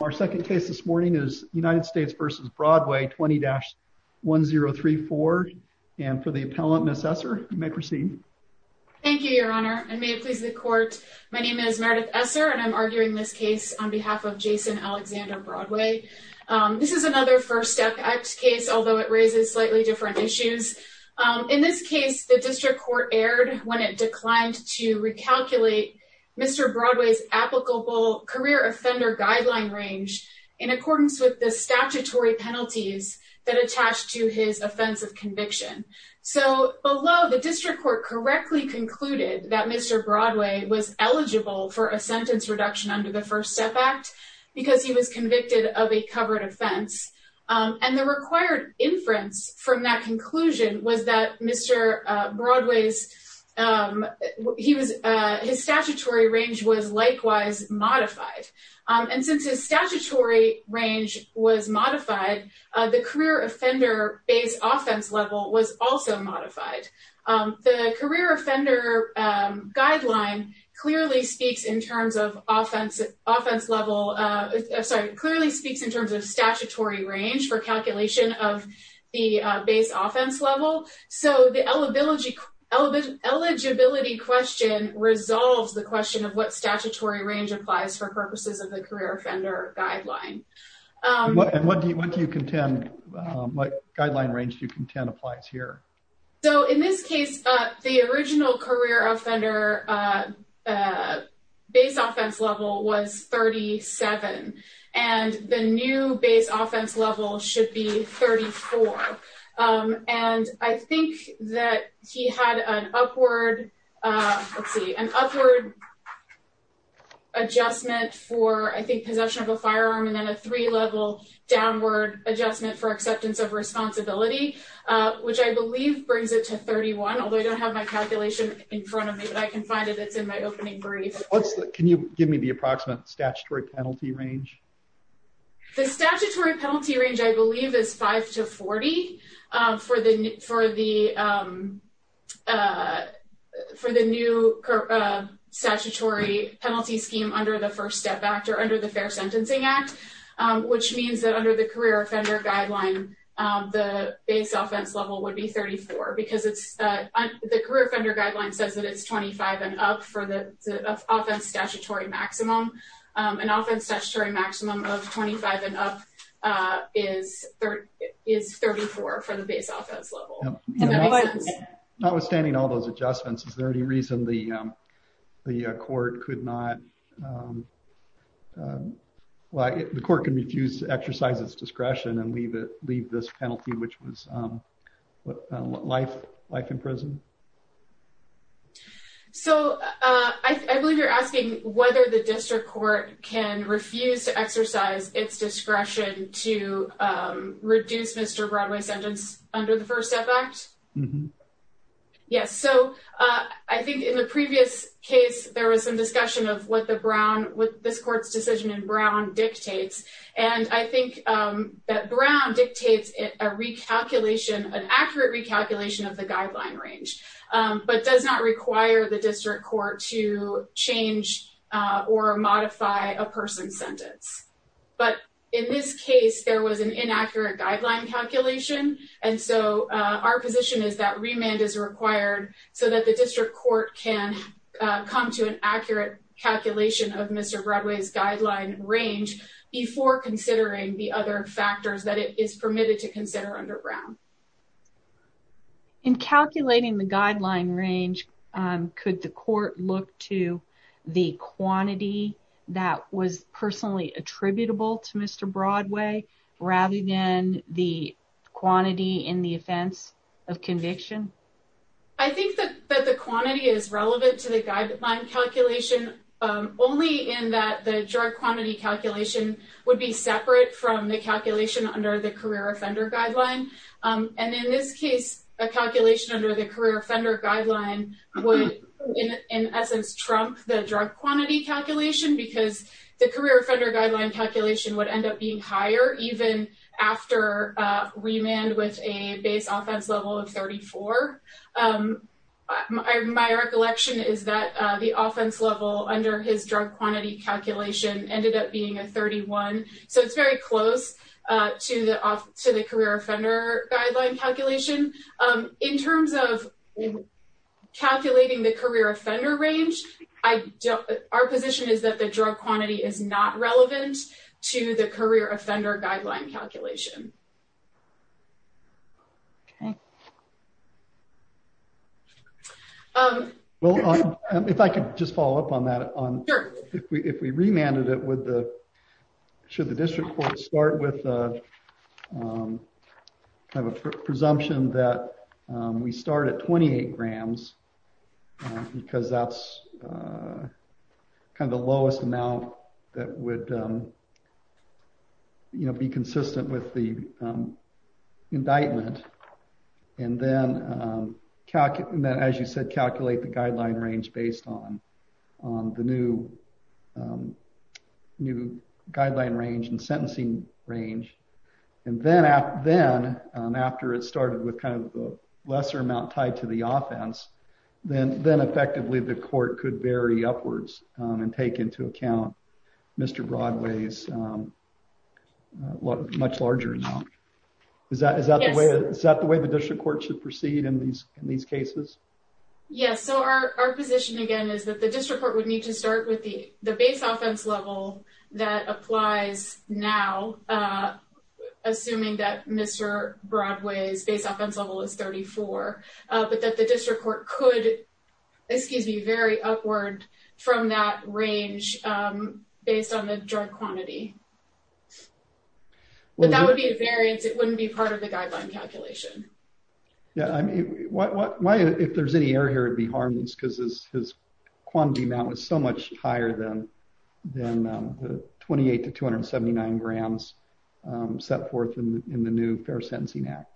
Our second case this morning is United States v. Broadway 20-1034 and for the appellant Ms. Esser you may proceed. Thank you your honor and may it please the court my name is Meredith Esser and I'm arguing this case on behalf of Jason Alexander Broadway. This is another First Step Act case although it raises slightly different issues. In this case the district court erred when it declined to recalculate Mr. Broadway's career offender guideline range in accordance with the statutory penalties that attached to his offense of conviction. So below the district court correctly concluded that Mr. Broadway was eligible for a sentence reduction under the First Step Act because he was convicted of a covered offense and the required inference from that conclusion was that Mr. Broadway's statutory range was likewise modified. And since his statutory range was modified the career offender base offense level was also modified. The career offender guideline clearly speaks in terms of statutory range for calculation of the base offense level. So the eligibility question resolves the question of what statutory range applies for purposes of the career offender guideline. And what do you contend, what guideline range do you contend applies here? So in this case the original career offender base offense level was 37 and the new base offense level should be 34. And I think that he had an upward, let's see, an upward adjustment for I think possession of a firearm and then a three-level downward adjustment for acceptance of responsibility which I believe brings it to 31 although I don't have my calculation in front of me but I can find it, it's in my opening brief. Can you give me the approximate statutory penalty range? The statutory penalty range I believe is 5 to 40 for the new statutory penalty scheme under the First Step Act or under the Fair Sentencing Act which means that under the career offender guideline the base offense level would be 34 because the career offender guideline says that it's 25 and up for the offense statutory maximum. An offense statutory maximum of 25 and up is 34 for the base offense level. Does that make sense? Notwithstanding all those adjustments is there any reason the court could not, the court can refuse to exercise its discretion and leave this penalty which was life in prison? So, I believe you're asking whether the district court can refuse to exercise its discretion to reduce Mr. Broadway's sentence under the First Step Act? Yes. So, I think in the previous case there was some discussion of what the Brown, what this court's decision in Brown dictates and I think that Brown dictates a recalculation, an accurate recalculation of the guideline range but does not require the district court to change or modify a person's sentence. But in this case there was an inaccurate guideline calculation and so our position is that remand is required so that the district court can come to an accurate calculation of Mr. Broadway's guideline range before considering the other factors that it is permitted to consider under Brown. In calculating the guideline range, could the court look to the quantity that was personally attributable to Mr. Broadway rather than the quantity in the offense of conviction? I think that the quantity is relevant to the guideline calculation only in that the drug quantity calculation would be separate from the calculation under the career offender guideline. And in this case, a calculation under the career offender guideline would in essence trump the drug quantity calculation because the career offender guideline calculation would end up being higher even after remand with a base offense level of 34. My recollection is that the offense level under his drug quantity calculation ended up being a 31, so it's very close to the career offender guideline calculation. In terms of calculating the career offender range, our position is that the drug quantity is not relevant to the career offender guideline calculation. If I could just follow up on that, if we remanded it, should the district court start with a presumption that we start at 28 grams because that's kind of the lowest amount that would be consistent with the indictment and then, as you said, calculate the guideline range based on the new guideline range and sentencing range, and then after it started with kind of a lesser amount tied to the offense, then effectively the court could vary upwards and take into account Mr. Broadway's much larger amount. Is that the way the district court should proceed in these cases? Yes. So, our position again is that the district court would need to start with the base offense level that applies now, assuming that Mr. Broadway's base offense level is 34, but that the district court could, excuse me, vary upward from that range based on the drug quantity. But that would be a variance, it wouldn't be part of the guideline calculation. Yeah, I mean, why, if there's any error here, it would be harmless because his quantity amount was so much higher than the 28 to 279 grams set forth in the new Fair Sentencing Act.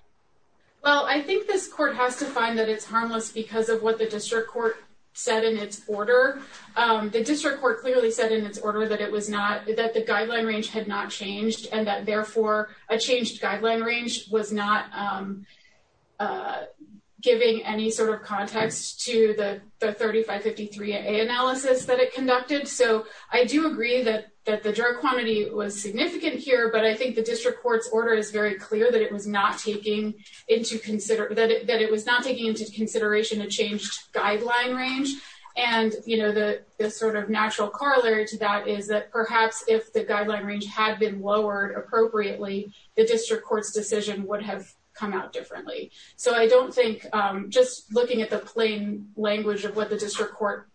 Well, I think this court has to find that it's harmless because of what the district court said in its order. The district court clearly said in its order that it was not, that the guideline range had not changed and that therefore a changed guideline range was not giving any sort of context to the 3553A analysis that it conducted. So I do agree that the drug quantity was significant here, but I think the district court's order is very clear that it was not taking into consideration a changed guideline range. And the sort of natural corollary to that is that perhaps if the guideline range had been lowered appropriately, the district court's decision would have come out differently. So I don't think, just looking at the plain language of what the district court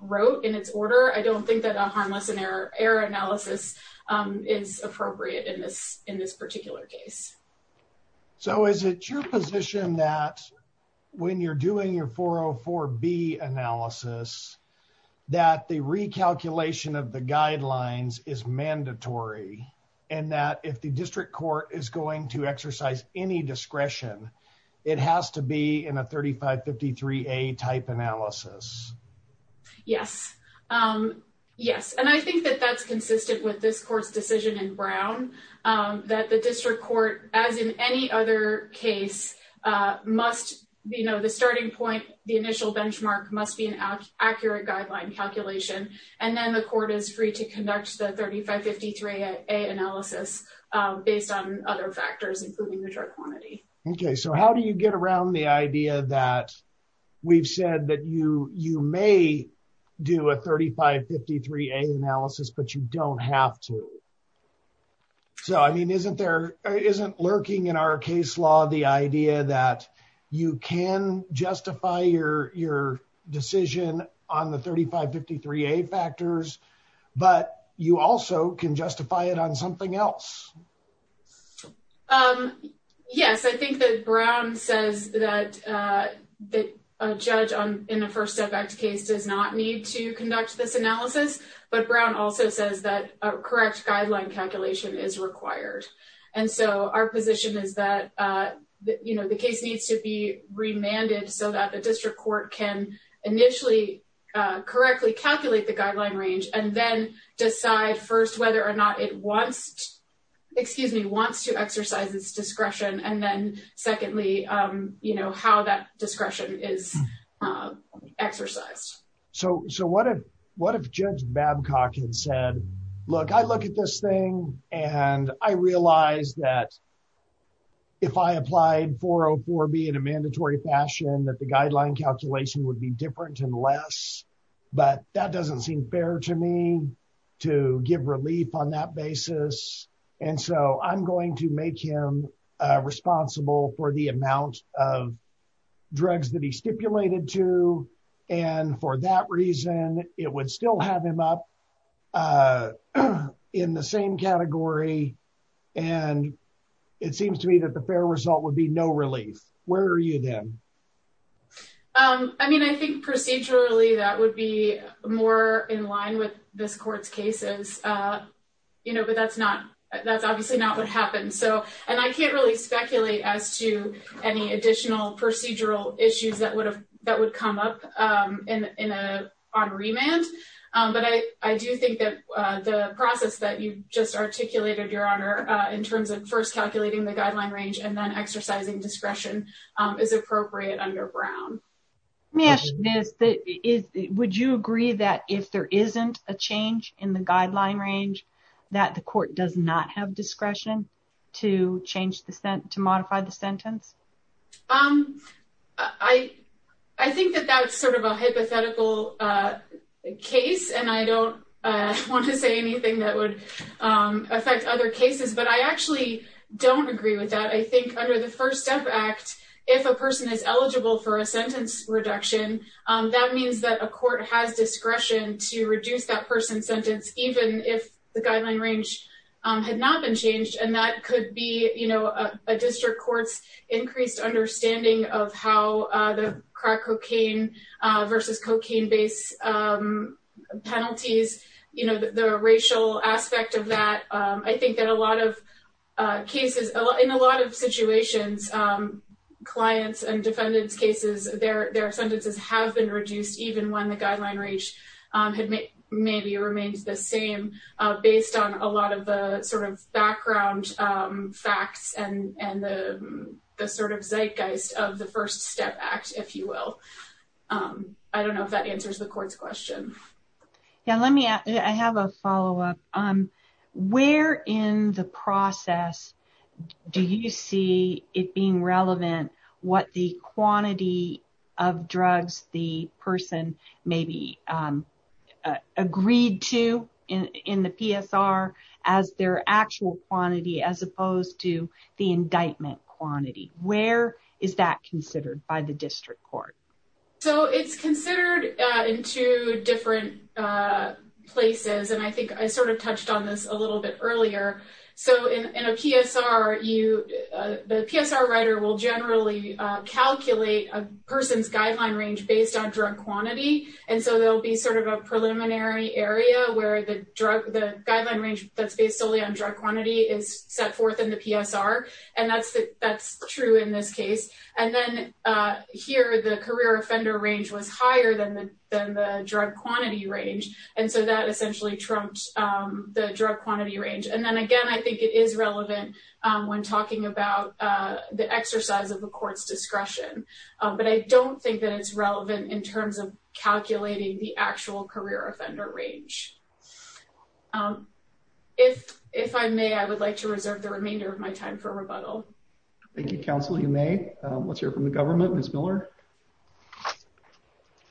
wrote in its order, I don't think that a harmless error analysis is appropriate in this particular case. So is it your position that when you're doing your 404B analysis, that the recalculation of the guidelines is mandatory and that if the district court is going to exercise any discretion, it has to be in a 3553A type analysis? Yes. Yes. And I think that that's consistent with this court's decision in Brown, that the district court, as in any other case, must, you know, the starting point, the initial benchmark must be an accurate guideline calculation. And then the court is free to conduct the 3553A analysis based on other factors, including the drug quantity. Okay. So how do you get around the idea that we've said that you may do a 3553A analysis, but you don't have to? So I mean, isn't lurking in our case law the idea that you can justify your decision on the 3553A factors, but you also can justify it on something else? Yes. I think that Brown says that a judge in a First Step Act case does not need to conduct this analysis, but Brown also says that a correct guideline calculation is required. And so our position is that, you know, the case needs to be remanded so that the district court can initially correctly calculate the guideline range and then decide first whether or not it wants, excuse me, wants to exercise its discretion. And then secondly, you know, how that discretion is exercised. So what if Judge Babcock had said, look, I look at this thing and I realize that if I applied 404B in a mandatory fashion, that the guideline calculation would be different and less. But that doesn't seem fair to me to give relief on that basis. And so I'm going to make him responsible for the amount of drugs that he stipulated to. And for that reason, it would still have him up in the same category. And it seems to me that the fair result would be no relief. Where are you then? I mean, I think procedurally, that would be more in line with this court's cases, you know, but that's not that's obviously not what happened. So and I can't really speculate as to any additional procedural issues that would have that would come up in a remand. But I do think that the process that you just articulated, Your Honor, in terms of first Let me ask you this. Would you agree that if there isn't a change in the guideline range, that the court does not have discretion to change the sentence to modify the sentence? I think that that's sort of a hypothetical case. And I don't want to say anything that would affect other cases, but I actually don't agree with that. I think under the First Step Act, if a person is eligible for a sentence reduction, that means that a court has discretion to reduce that person's sentence, even if the guideline range had not been changed. And that could be, you know, a district court's increased understanding of how the crack cocaine versus cocaine based penalties, you know, the racial aspect of that. I think that a lot of cases in a lot of situations, clients and defendants cases, their sentences have been reduced, even when the guideline range had maybe remained the same, based on a lot of the sort of background facts and the sort of zeitgeist of the First Step Act, if you will. I don't know if that answers the court's question. Yeah, let me, I have a follow up. Where in the process do you see it being relevant what the quantity of drugs the person maybe agreed to in the PSR as their actual quantity, as opposed to the indictment quantity? Where is that considered by the district court? So it's considered in two different places, and I think I sort of touched on this a little bit earlier. So in a PSR, the PSR writer will generally calculate a person's guideline range based on drug quantity. And so there'll be sort of a preliminary area where the drug, the guideline range that's based solely on drug quantity is set forth in the PSR. And that's true in this case. And then here, the career offender range was higher than the drug quantity range. And so that essentially trumps the drug quantity range. And then again, I think it is relevant when talking about the exercise of the court's discretion. But I don't think that it's relevant in terms of calculating the actual career offender range. If I may, I would like to reserve the remainder of my time for rebuttal. Thank you, counsel. You may. Let's hear from the government. Ms. Miller?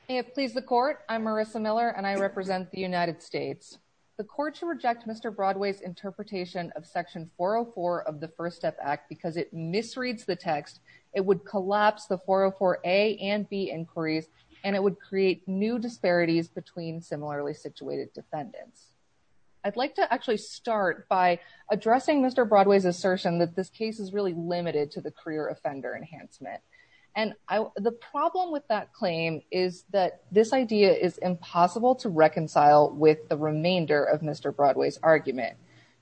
May it please the court. I'm Marissa Miller, and I represent the United States. The court should reject Mr. Broadway's interpretation of Section 404 of the First Step Act because it misreads the text, it would collapse the 404A and B inquiries, and it would create new disparities between similarly situated defendants. I'd like to actually start by addressing Mr. Broadway's assertion that this case is really limited to the career offender enhancement. And the problem with that claim is that this idea is impossible to reconcile with the remainder of Mr. Broadway's argument.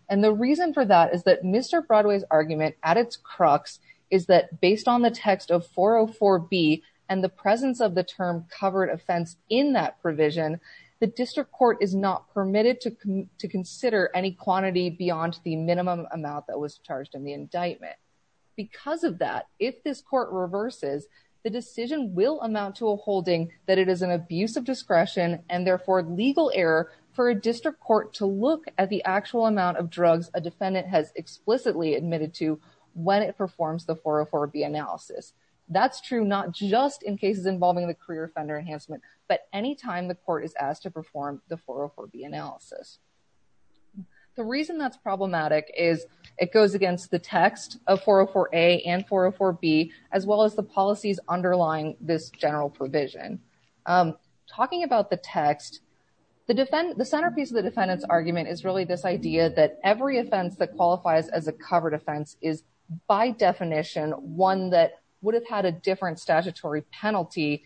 And the reason for that is that Mr. Broadway's argument at its crux is that based on the text of 404B and the presence of the term covered offense in that provision, the district court is not permitted to consider any quantity beyond the minimum amount that was charged in the indictment. Because of that, if this court reverses, the decision will amount to a holding that it is an abuse of discretion and therefore legal error for a district court to look at the actual amount of drugs a defendant has explicitly admitted to when it performs the 404B analysis. That's true not just in cases involving the career offender enhancement, but any time the court is asked to perform the 404B analysis. The reason that's problematic is it goes against the text of 404A and 404B, as well as the policies underlying this general provision. Talking about the text, the centerpiece of the defendant's argument is really this idea that every offense that qualifies as a covered offense is by definition one that would have had a different statutory penalty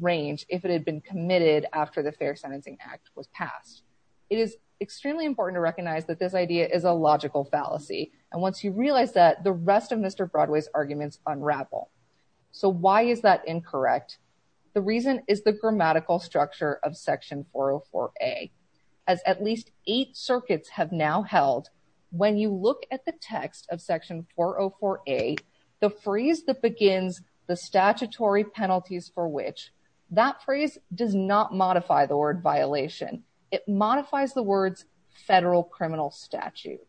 range if it had been committed after the Fair Sentencing Act was passed. It is extremely important to recognize that this idea is a logical fallacy, and once you realize that, the rest of Mr. Broadway's arguments unravel. So why is that incorrect? The reason is the grammatical structure of Section 404A. As at least eight circuits have now held, when you look at the text of Section 404A, the phrase that begins, the statutory penalties for which, that phrase does not modify the formulation. It modifies the words federal criminal statute.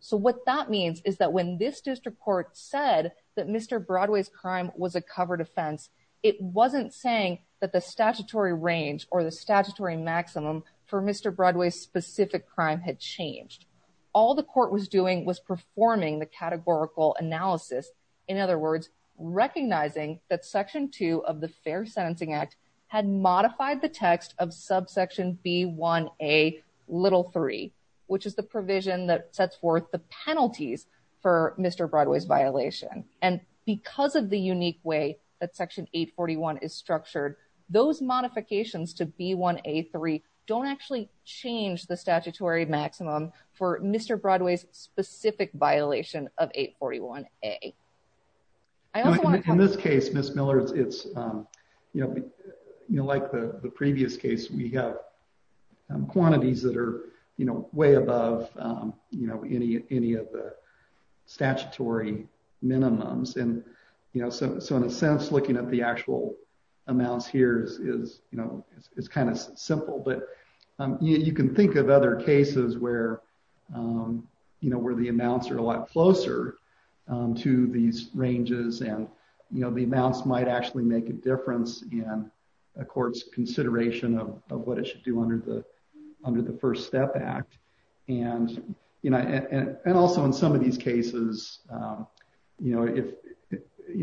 So what that means is that when this district court said that Mr. Broadway's crime was a covered offense, it wasn't saying that the statutory range or the statutory maximum for Mr. Broadway's specific crime had changed. All the court was doing was performing the categorical analysis. In other words, recognizing that Section 2 of the Fair Sentencing Act had modified the provision B1A little three, which is the provision that sets forth the penalties for Mr. Broadway's violation. And because of the unique way that Section 841 is structured, those modifications to B1A three don't actually change the statutory maximum for Mr. Broadway's specific violation of 841A. In this case, Ms. Miller, it's, you know, like the previous case, we have quantities that are, you know, way above, you know, any of the statutory minimums. And, you know, so in a sense, looking at the actual amounts here is, you know, it's kind of simple, but you can think of other cases where, you know, where the amounts are a lot closer to these ranges and, you know, the amounts might actually make a difference in a court's consideration of what it should do under the First Step Act. And, you know, and also in some of these cases, you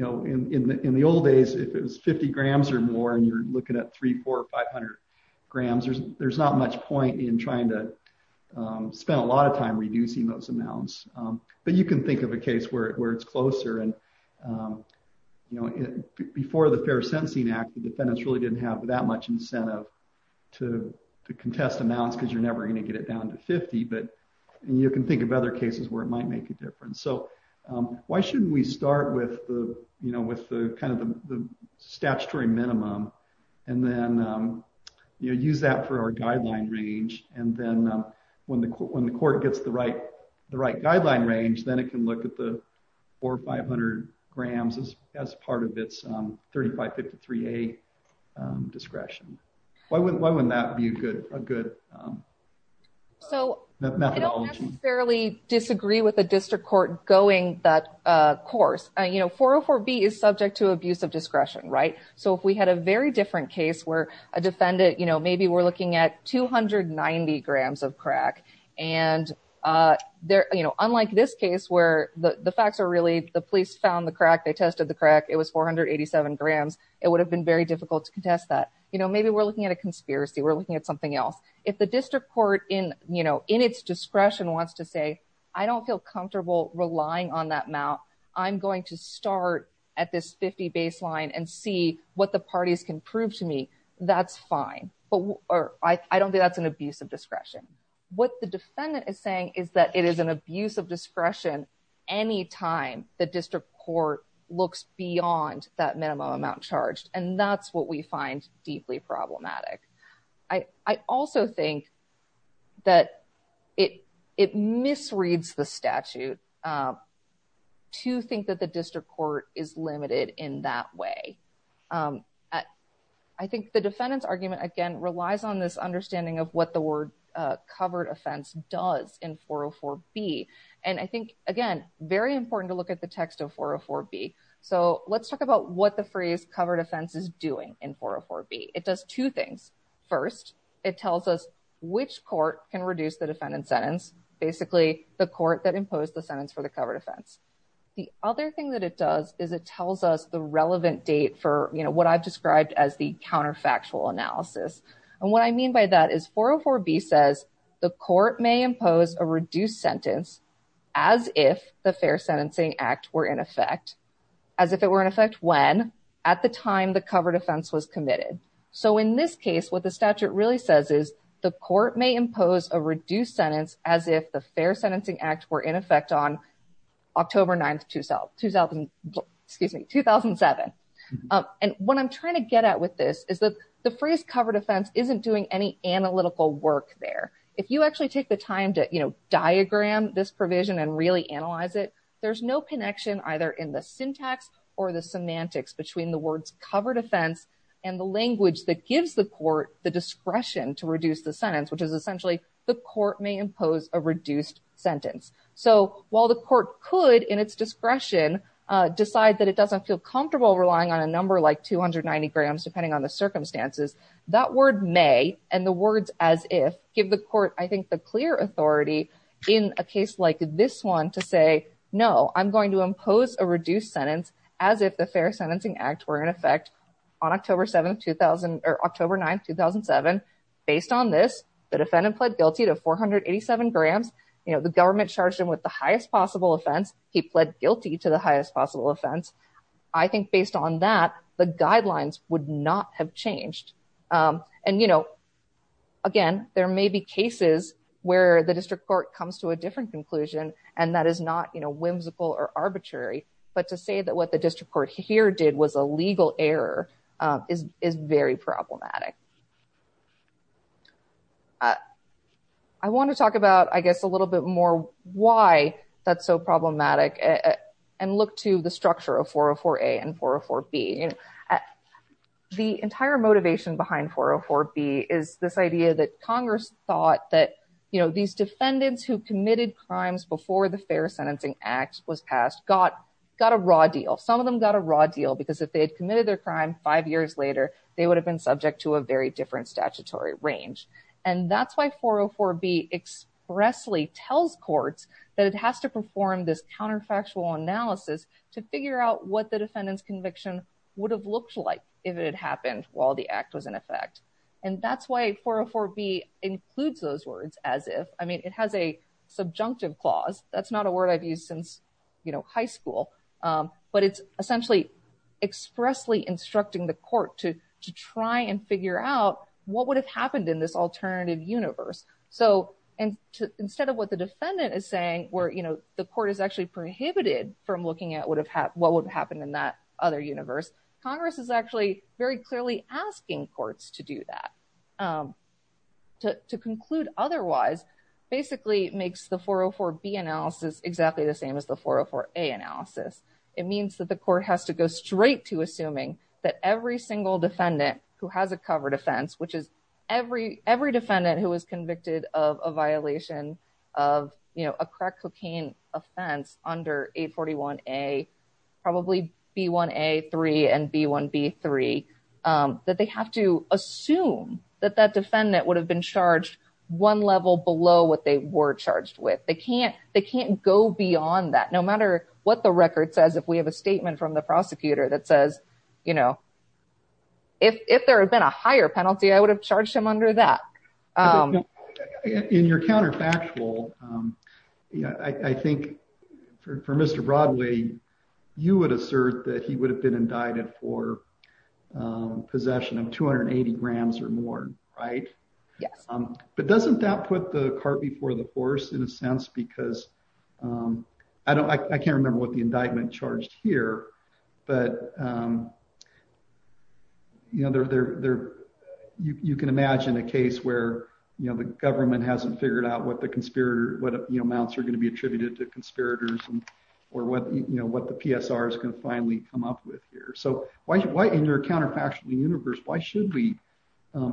know, in the old days, if it was 50 grams or more and you're looking at three, four, 500 grams, there's not much point in trying to spend a lot of time reducing those amounts. But you can think of a case where it's closer and, you know, before the Fair Sentencing Act, the defendants really didn't have that much incentive to contest amounts because you're never going to get it down to 50, but you can think of other cases where it might make a difference. So why shouldn't we start with the, you know, with the kind of the statutory minimum and then, you know, use that for our guideline range. And then when the court gets the right guideline range, then it can look at the four or five hundred grams as part of its 3553A discretion. Why wouldn't that be a good methodology? So I don't necessarily disagree with the district court going that course. You know, 404B is subject to abuse of discretion. Right. So if we had a very different case where a defendant, you know, maybe we're looking at two hundred ninety grams of crack and they're, you know, unlike this case where the facts are really the police found the crack, they tested the crack. It was 487 grams. It would have been very difficult to contest that. You know, maybe we're looking at a conspiracy. We're looking at something else. If the district court in, you know, in its discretion wants to say, I don't feel comfortable relying on that amount, I'm going to start at this 50 baseline and see what the parties can prove to me. That's fine, but I don't think that's an abuse of discretion. What the defendant is saying is that it is an abuse of discretion any time the district court looks beyond that minimum amount charged. And that's what we find deeply problematic. I also think that it misreads the statute to think that the district court is limited in that way. I think the defendant's argument, again, relies on this understanding of what the word covered offense does in 404 B. And I think, again, very important to look at the text of 404 B. So let's talk about what the phrase covered offense is doing in 404 B. It does two things. First, it tells us which court can reduce the defendant's sentence. Basically, the court that imposed the sentence for the covered offense. The other thing that it does is it tells us the relevant date for what I've described as the counterfactual analysis. And what I mean by that is 404 B says the court may impose a reduced sentence as if the Fair Sentencing Act were in effect, as if it were in effect when at the time the covered offense was committed. So in this case, what the statute really says is the court may impose a reduced sentence as if the Fair Sentencing Act were in effect on October 9th, 2007. And what I'm trying to get at with this is that the phrase covered offense isn't doing any analytical work there. If you actually take the time to diagram this provision and really analyze it, there's no connection either in the syntax or the semantics between the words covered offense and the language that gives the court the discretion to reduce the sentence, which is a reduced sentence. So while the court could, in its discretion, decide that it doesn't feel comfortable relying on a number like 290 grams, depending on the circumstances, that word may and the words as if give the court, I think, the clear authority in a case like this one to say, no, I'm going to impose a reduced sentence as if the Fair Sentencing Act were in effect on October 7th, 2000 or October 9th, 2007. Based on this, the defendant pled guilty to 487 grams. The government charged him with the highest possible offense. He pled guilty to the highest possible offense. I think based on that, the guidelines would not have changed. And, you know, again, there may be cases where the district court comes to a different conclusion and that is not whimsical or arbitrary. But to say that what the district court here did was a legal error is very problematic. I want to talk about, I guess, a little bit more why that's so problematic and look to the structure of 404A and 404B. The entire motivation behind 404B is this idea that Congress thought that these defendants who committed crimes before the Fair Sentencing Act was passed got a raw deal. Some of them got a raw deal because if they had committed their crime five years later, they would have been subject to a very different statutory range. And that's why 404B expressly tells courts that it has to perform this counterfactual analysis to figure out what the defendant's conviction would have looked like if it had happened while the act was in effect. And that's why 404B includes those words as if, I mean, it has a subjunctive clause. That's not a word I've used since high school, but it's essentially expressly instructing the court to try and figure out what would have happened in this alternative universe. So instead of what the defendant is saying, where the court is actually prohibited from looking at what would have happened in that other universe, Congress is actually very clearly asking courts to do that. To conclude otherwise basically makes the 404B analysis exactly the same as the 404A that every single defendant who has a covered offense, which is every every defendant who was convicted of a violation of a crack cocaine offense under 841A, probably B1A3 and B1B3, that they have to assume that that defendant would have been charged one level below what they were charged with. They can't they can't go beyond that, no matter what the record says. If we have a statement from the prosecutor that says, you know. If there had been a higher penalty, I would have charged him under that. In your counterfactual, I think for Mr. Broadway, you would assert that he would have been indicted for possession of 280 grams or more, right? Yes. But doesn't that put the cart before the horse in a sense? Because I don't I can't remember what the indictment charged here, but. You know, you can imagine a case where, you know, the government hasn't figured out what the conspirator, what amounts are going to be attributed to conspirators or what, you know, what the PSR is going to finally come up with here. So why in your counterfactual universe, why should we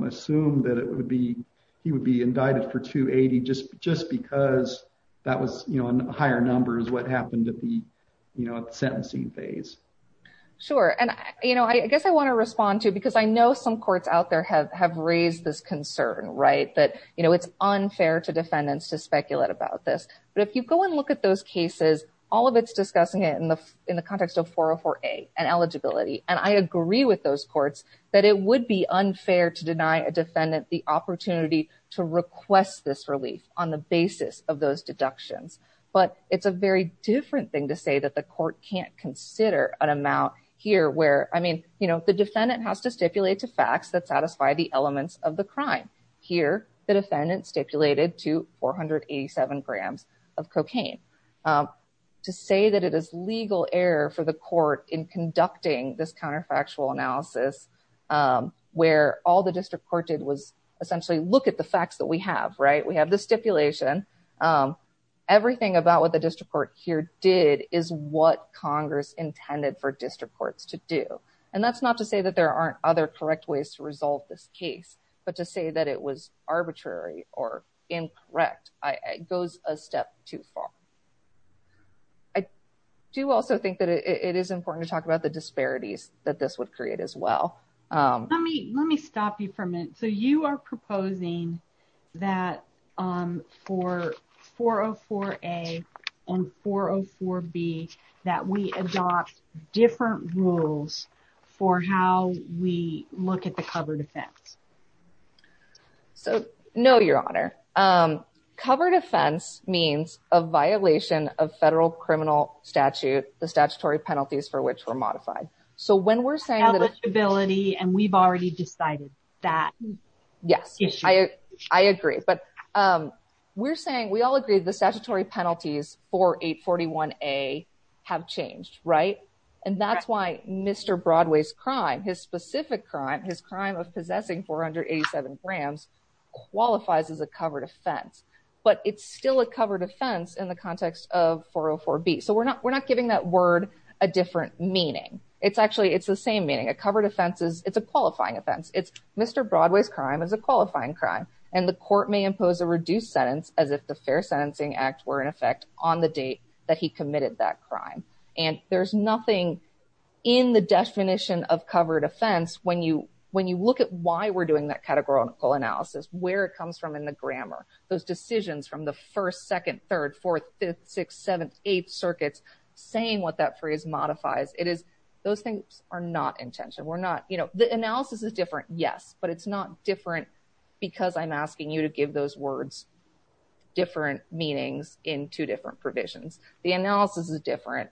assume that it would be he would be indicted for 280 just just because that was, you know, a higher number is what happened at the sentencing phase. Sure. And, you know, I guess I want to respond to because I know some courts out there have have raised this concern, right, that, you know, it's unfair to defendants to speculate about this. But if you go and look at those cases, all of it's discussing it in the in the context of 404A and eligibility. And I agree with those courts that it would be unfair to deny a defendant the opportunity to request this relief on the basis of those deductions. But it's a very different thing to say that the court can't consider an amount here where, I mean, you know, the defendant has to stipulate to facts that satisfy the elements of the crime. Here, the defendant stipulated to 487 grams of cocaine to say that it is legal error for the court in conducting this counterfactual analysis where all the the facts that we have, right, we have the stipulation, everything about what the district court here did is what Congress intended for district courts to do. And that's not to say that there aren't other correct ways to resolve this case, but to say that it was arbitrary or incorrect goes a step too far. I do also think that it is important to talk about the disparities that this would create as well. Let me let me stop you for a minute. So you are proposing that for 404A and 404B that we adopt different rules for how we look at the covered offense. So, no, Your Honor, covered offense means a violation of federal criminal statute, the statutory penalties for which were modified. So when we're saying that ability and we've already decided that, yes, I agree. But we're saying we all agree the statutory penalties for 841A have changed. Right. And that's why Mr. Broadway's crime, his specific crime, his crime of possessing 487 grams qualifies as a covered offense. But it's still a covered offense in the context of 404B. So we're not we're not giving that word a different meaning. It's actually it's the same meaning. A covered offense is it's a qualifying offense. It's Mr. Broadway's crime is a qualifying crime. And the court may impose a reduced sentence as if the Fair Sentencing Act were in effect on the date that he committed that crime. And there's nothing in the definition of covered offense. When you when you look at why we're doing that categorical analysis, where it comes from in the grammar, those decisions from the first, second, third, fourth, fifth, sixth, seventh, eighth circuits saying what that phrase modifies. It is those things are not intention. We're not you know, the analysis is different. Yes, but it's not different because I'm asking you to give those words different meanings in two different provisions. The analysis is different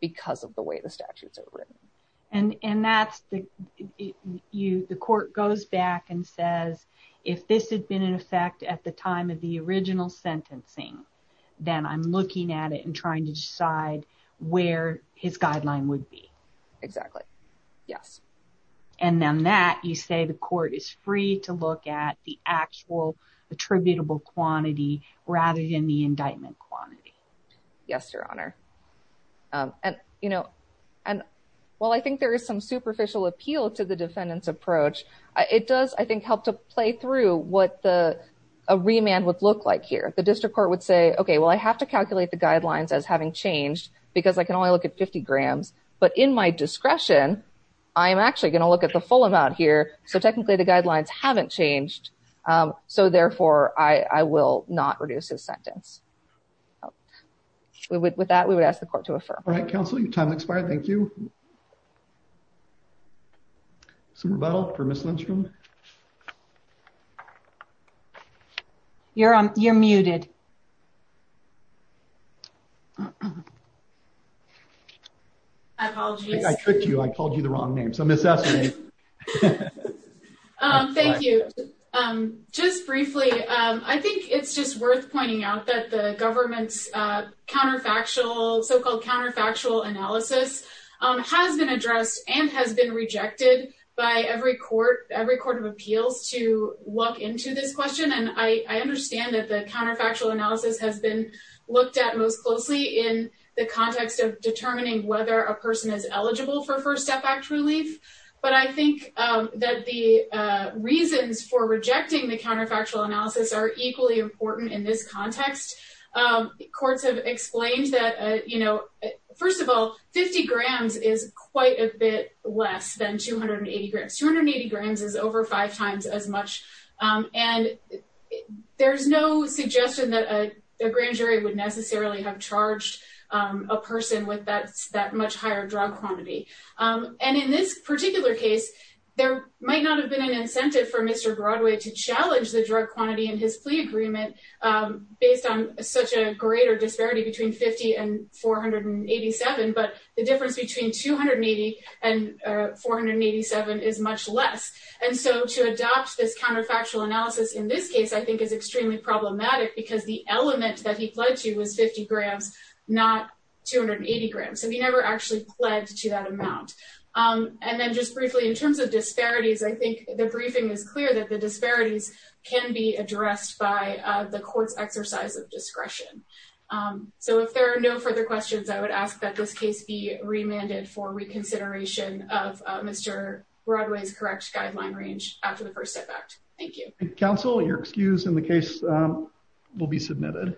because of the way the statutes are written. And and that's the you the court goes back and says, if this had been in effect at the time of the original sentencing, then I'm looking at it and trying to decide where his guideline would be. Exactly. Yes. And then that you say the court is free to look at the actual attributable quantity rather than the indictment quantity. Yes, Your Honor. And, you know, and while I think there is some superficial appeal to the defendant's approach, it does, I think, help to play through what the remand would look like here. The district court would say, OK, well, I have to calculate the guidelines as having changed because I can only look at 50 grams. But in my discretion, I am actually going to look at the full amount here. So technically, the guidelines haven't changed. So therefore, I will not reduce his sentence. With that, we would ask the court to affirm. All right, counsel. Your time expired. Thank you. Some rebuttal for Ms. Lindstrom. You're you're muted. I apologize. I tricked you. I called you the wrong name. So Ms. Essany. Thank you. Just briefly, I think it's just worth pointing out that the government's counterfactual, so-called counterfactual analysis has been addressed and has been rejected by every court, every court of appeals to look into this question. And I understand that the counterfactual analysis has been looked at most closely in the context of determining whether a person is eligible for First Step Act relief. But I think that the reasons for rejecting the counterfactual analysis are equally important in this context. Courts have explained that, you know, first of all, 50 grams is quite a bit less than 280 grams. 280 grams is over five times as much. And there's no suggestion that a grand jury would necessarily have charged a person with that much higher drug quantity. And in this particular case, there might not have been an incentive for Mr. Broadway to challenge the drug quantity in his plea agreement based on such a greater disparity between 50 and 487. But the difference between 280 and 487 is much less. And so to adopt this counterfactual analysis in this case, I think is extremely problematic because the element that he pledged to was 50 grams, not 280 grams. And he never actually pledged to that amount. And then just briefly in terms of disparities, I think the briefing is clear that the disparities can be addressed by the court's exercise of discretion. So if there are no further questions, I would ask that this case be remanded for reconsideration of Mr. Broadway's correct guideline range after the first effect. Thank you. Counsel, you're excused and the case will be submitted.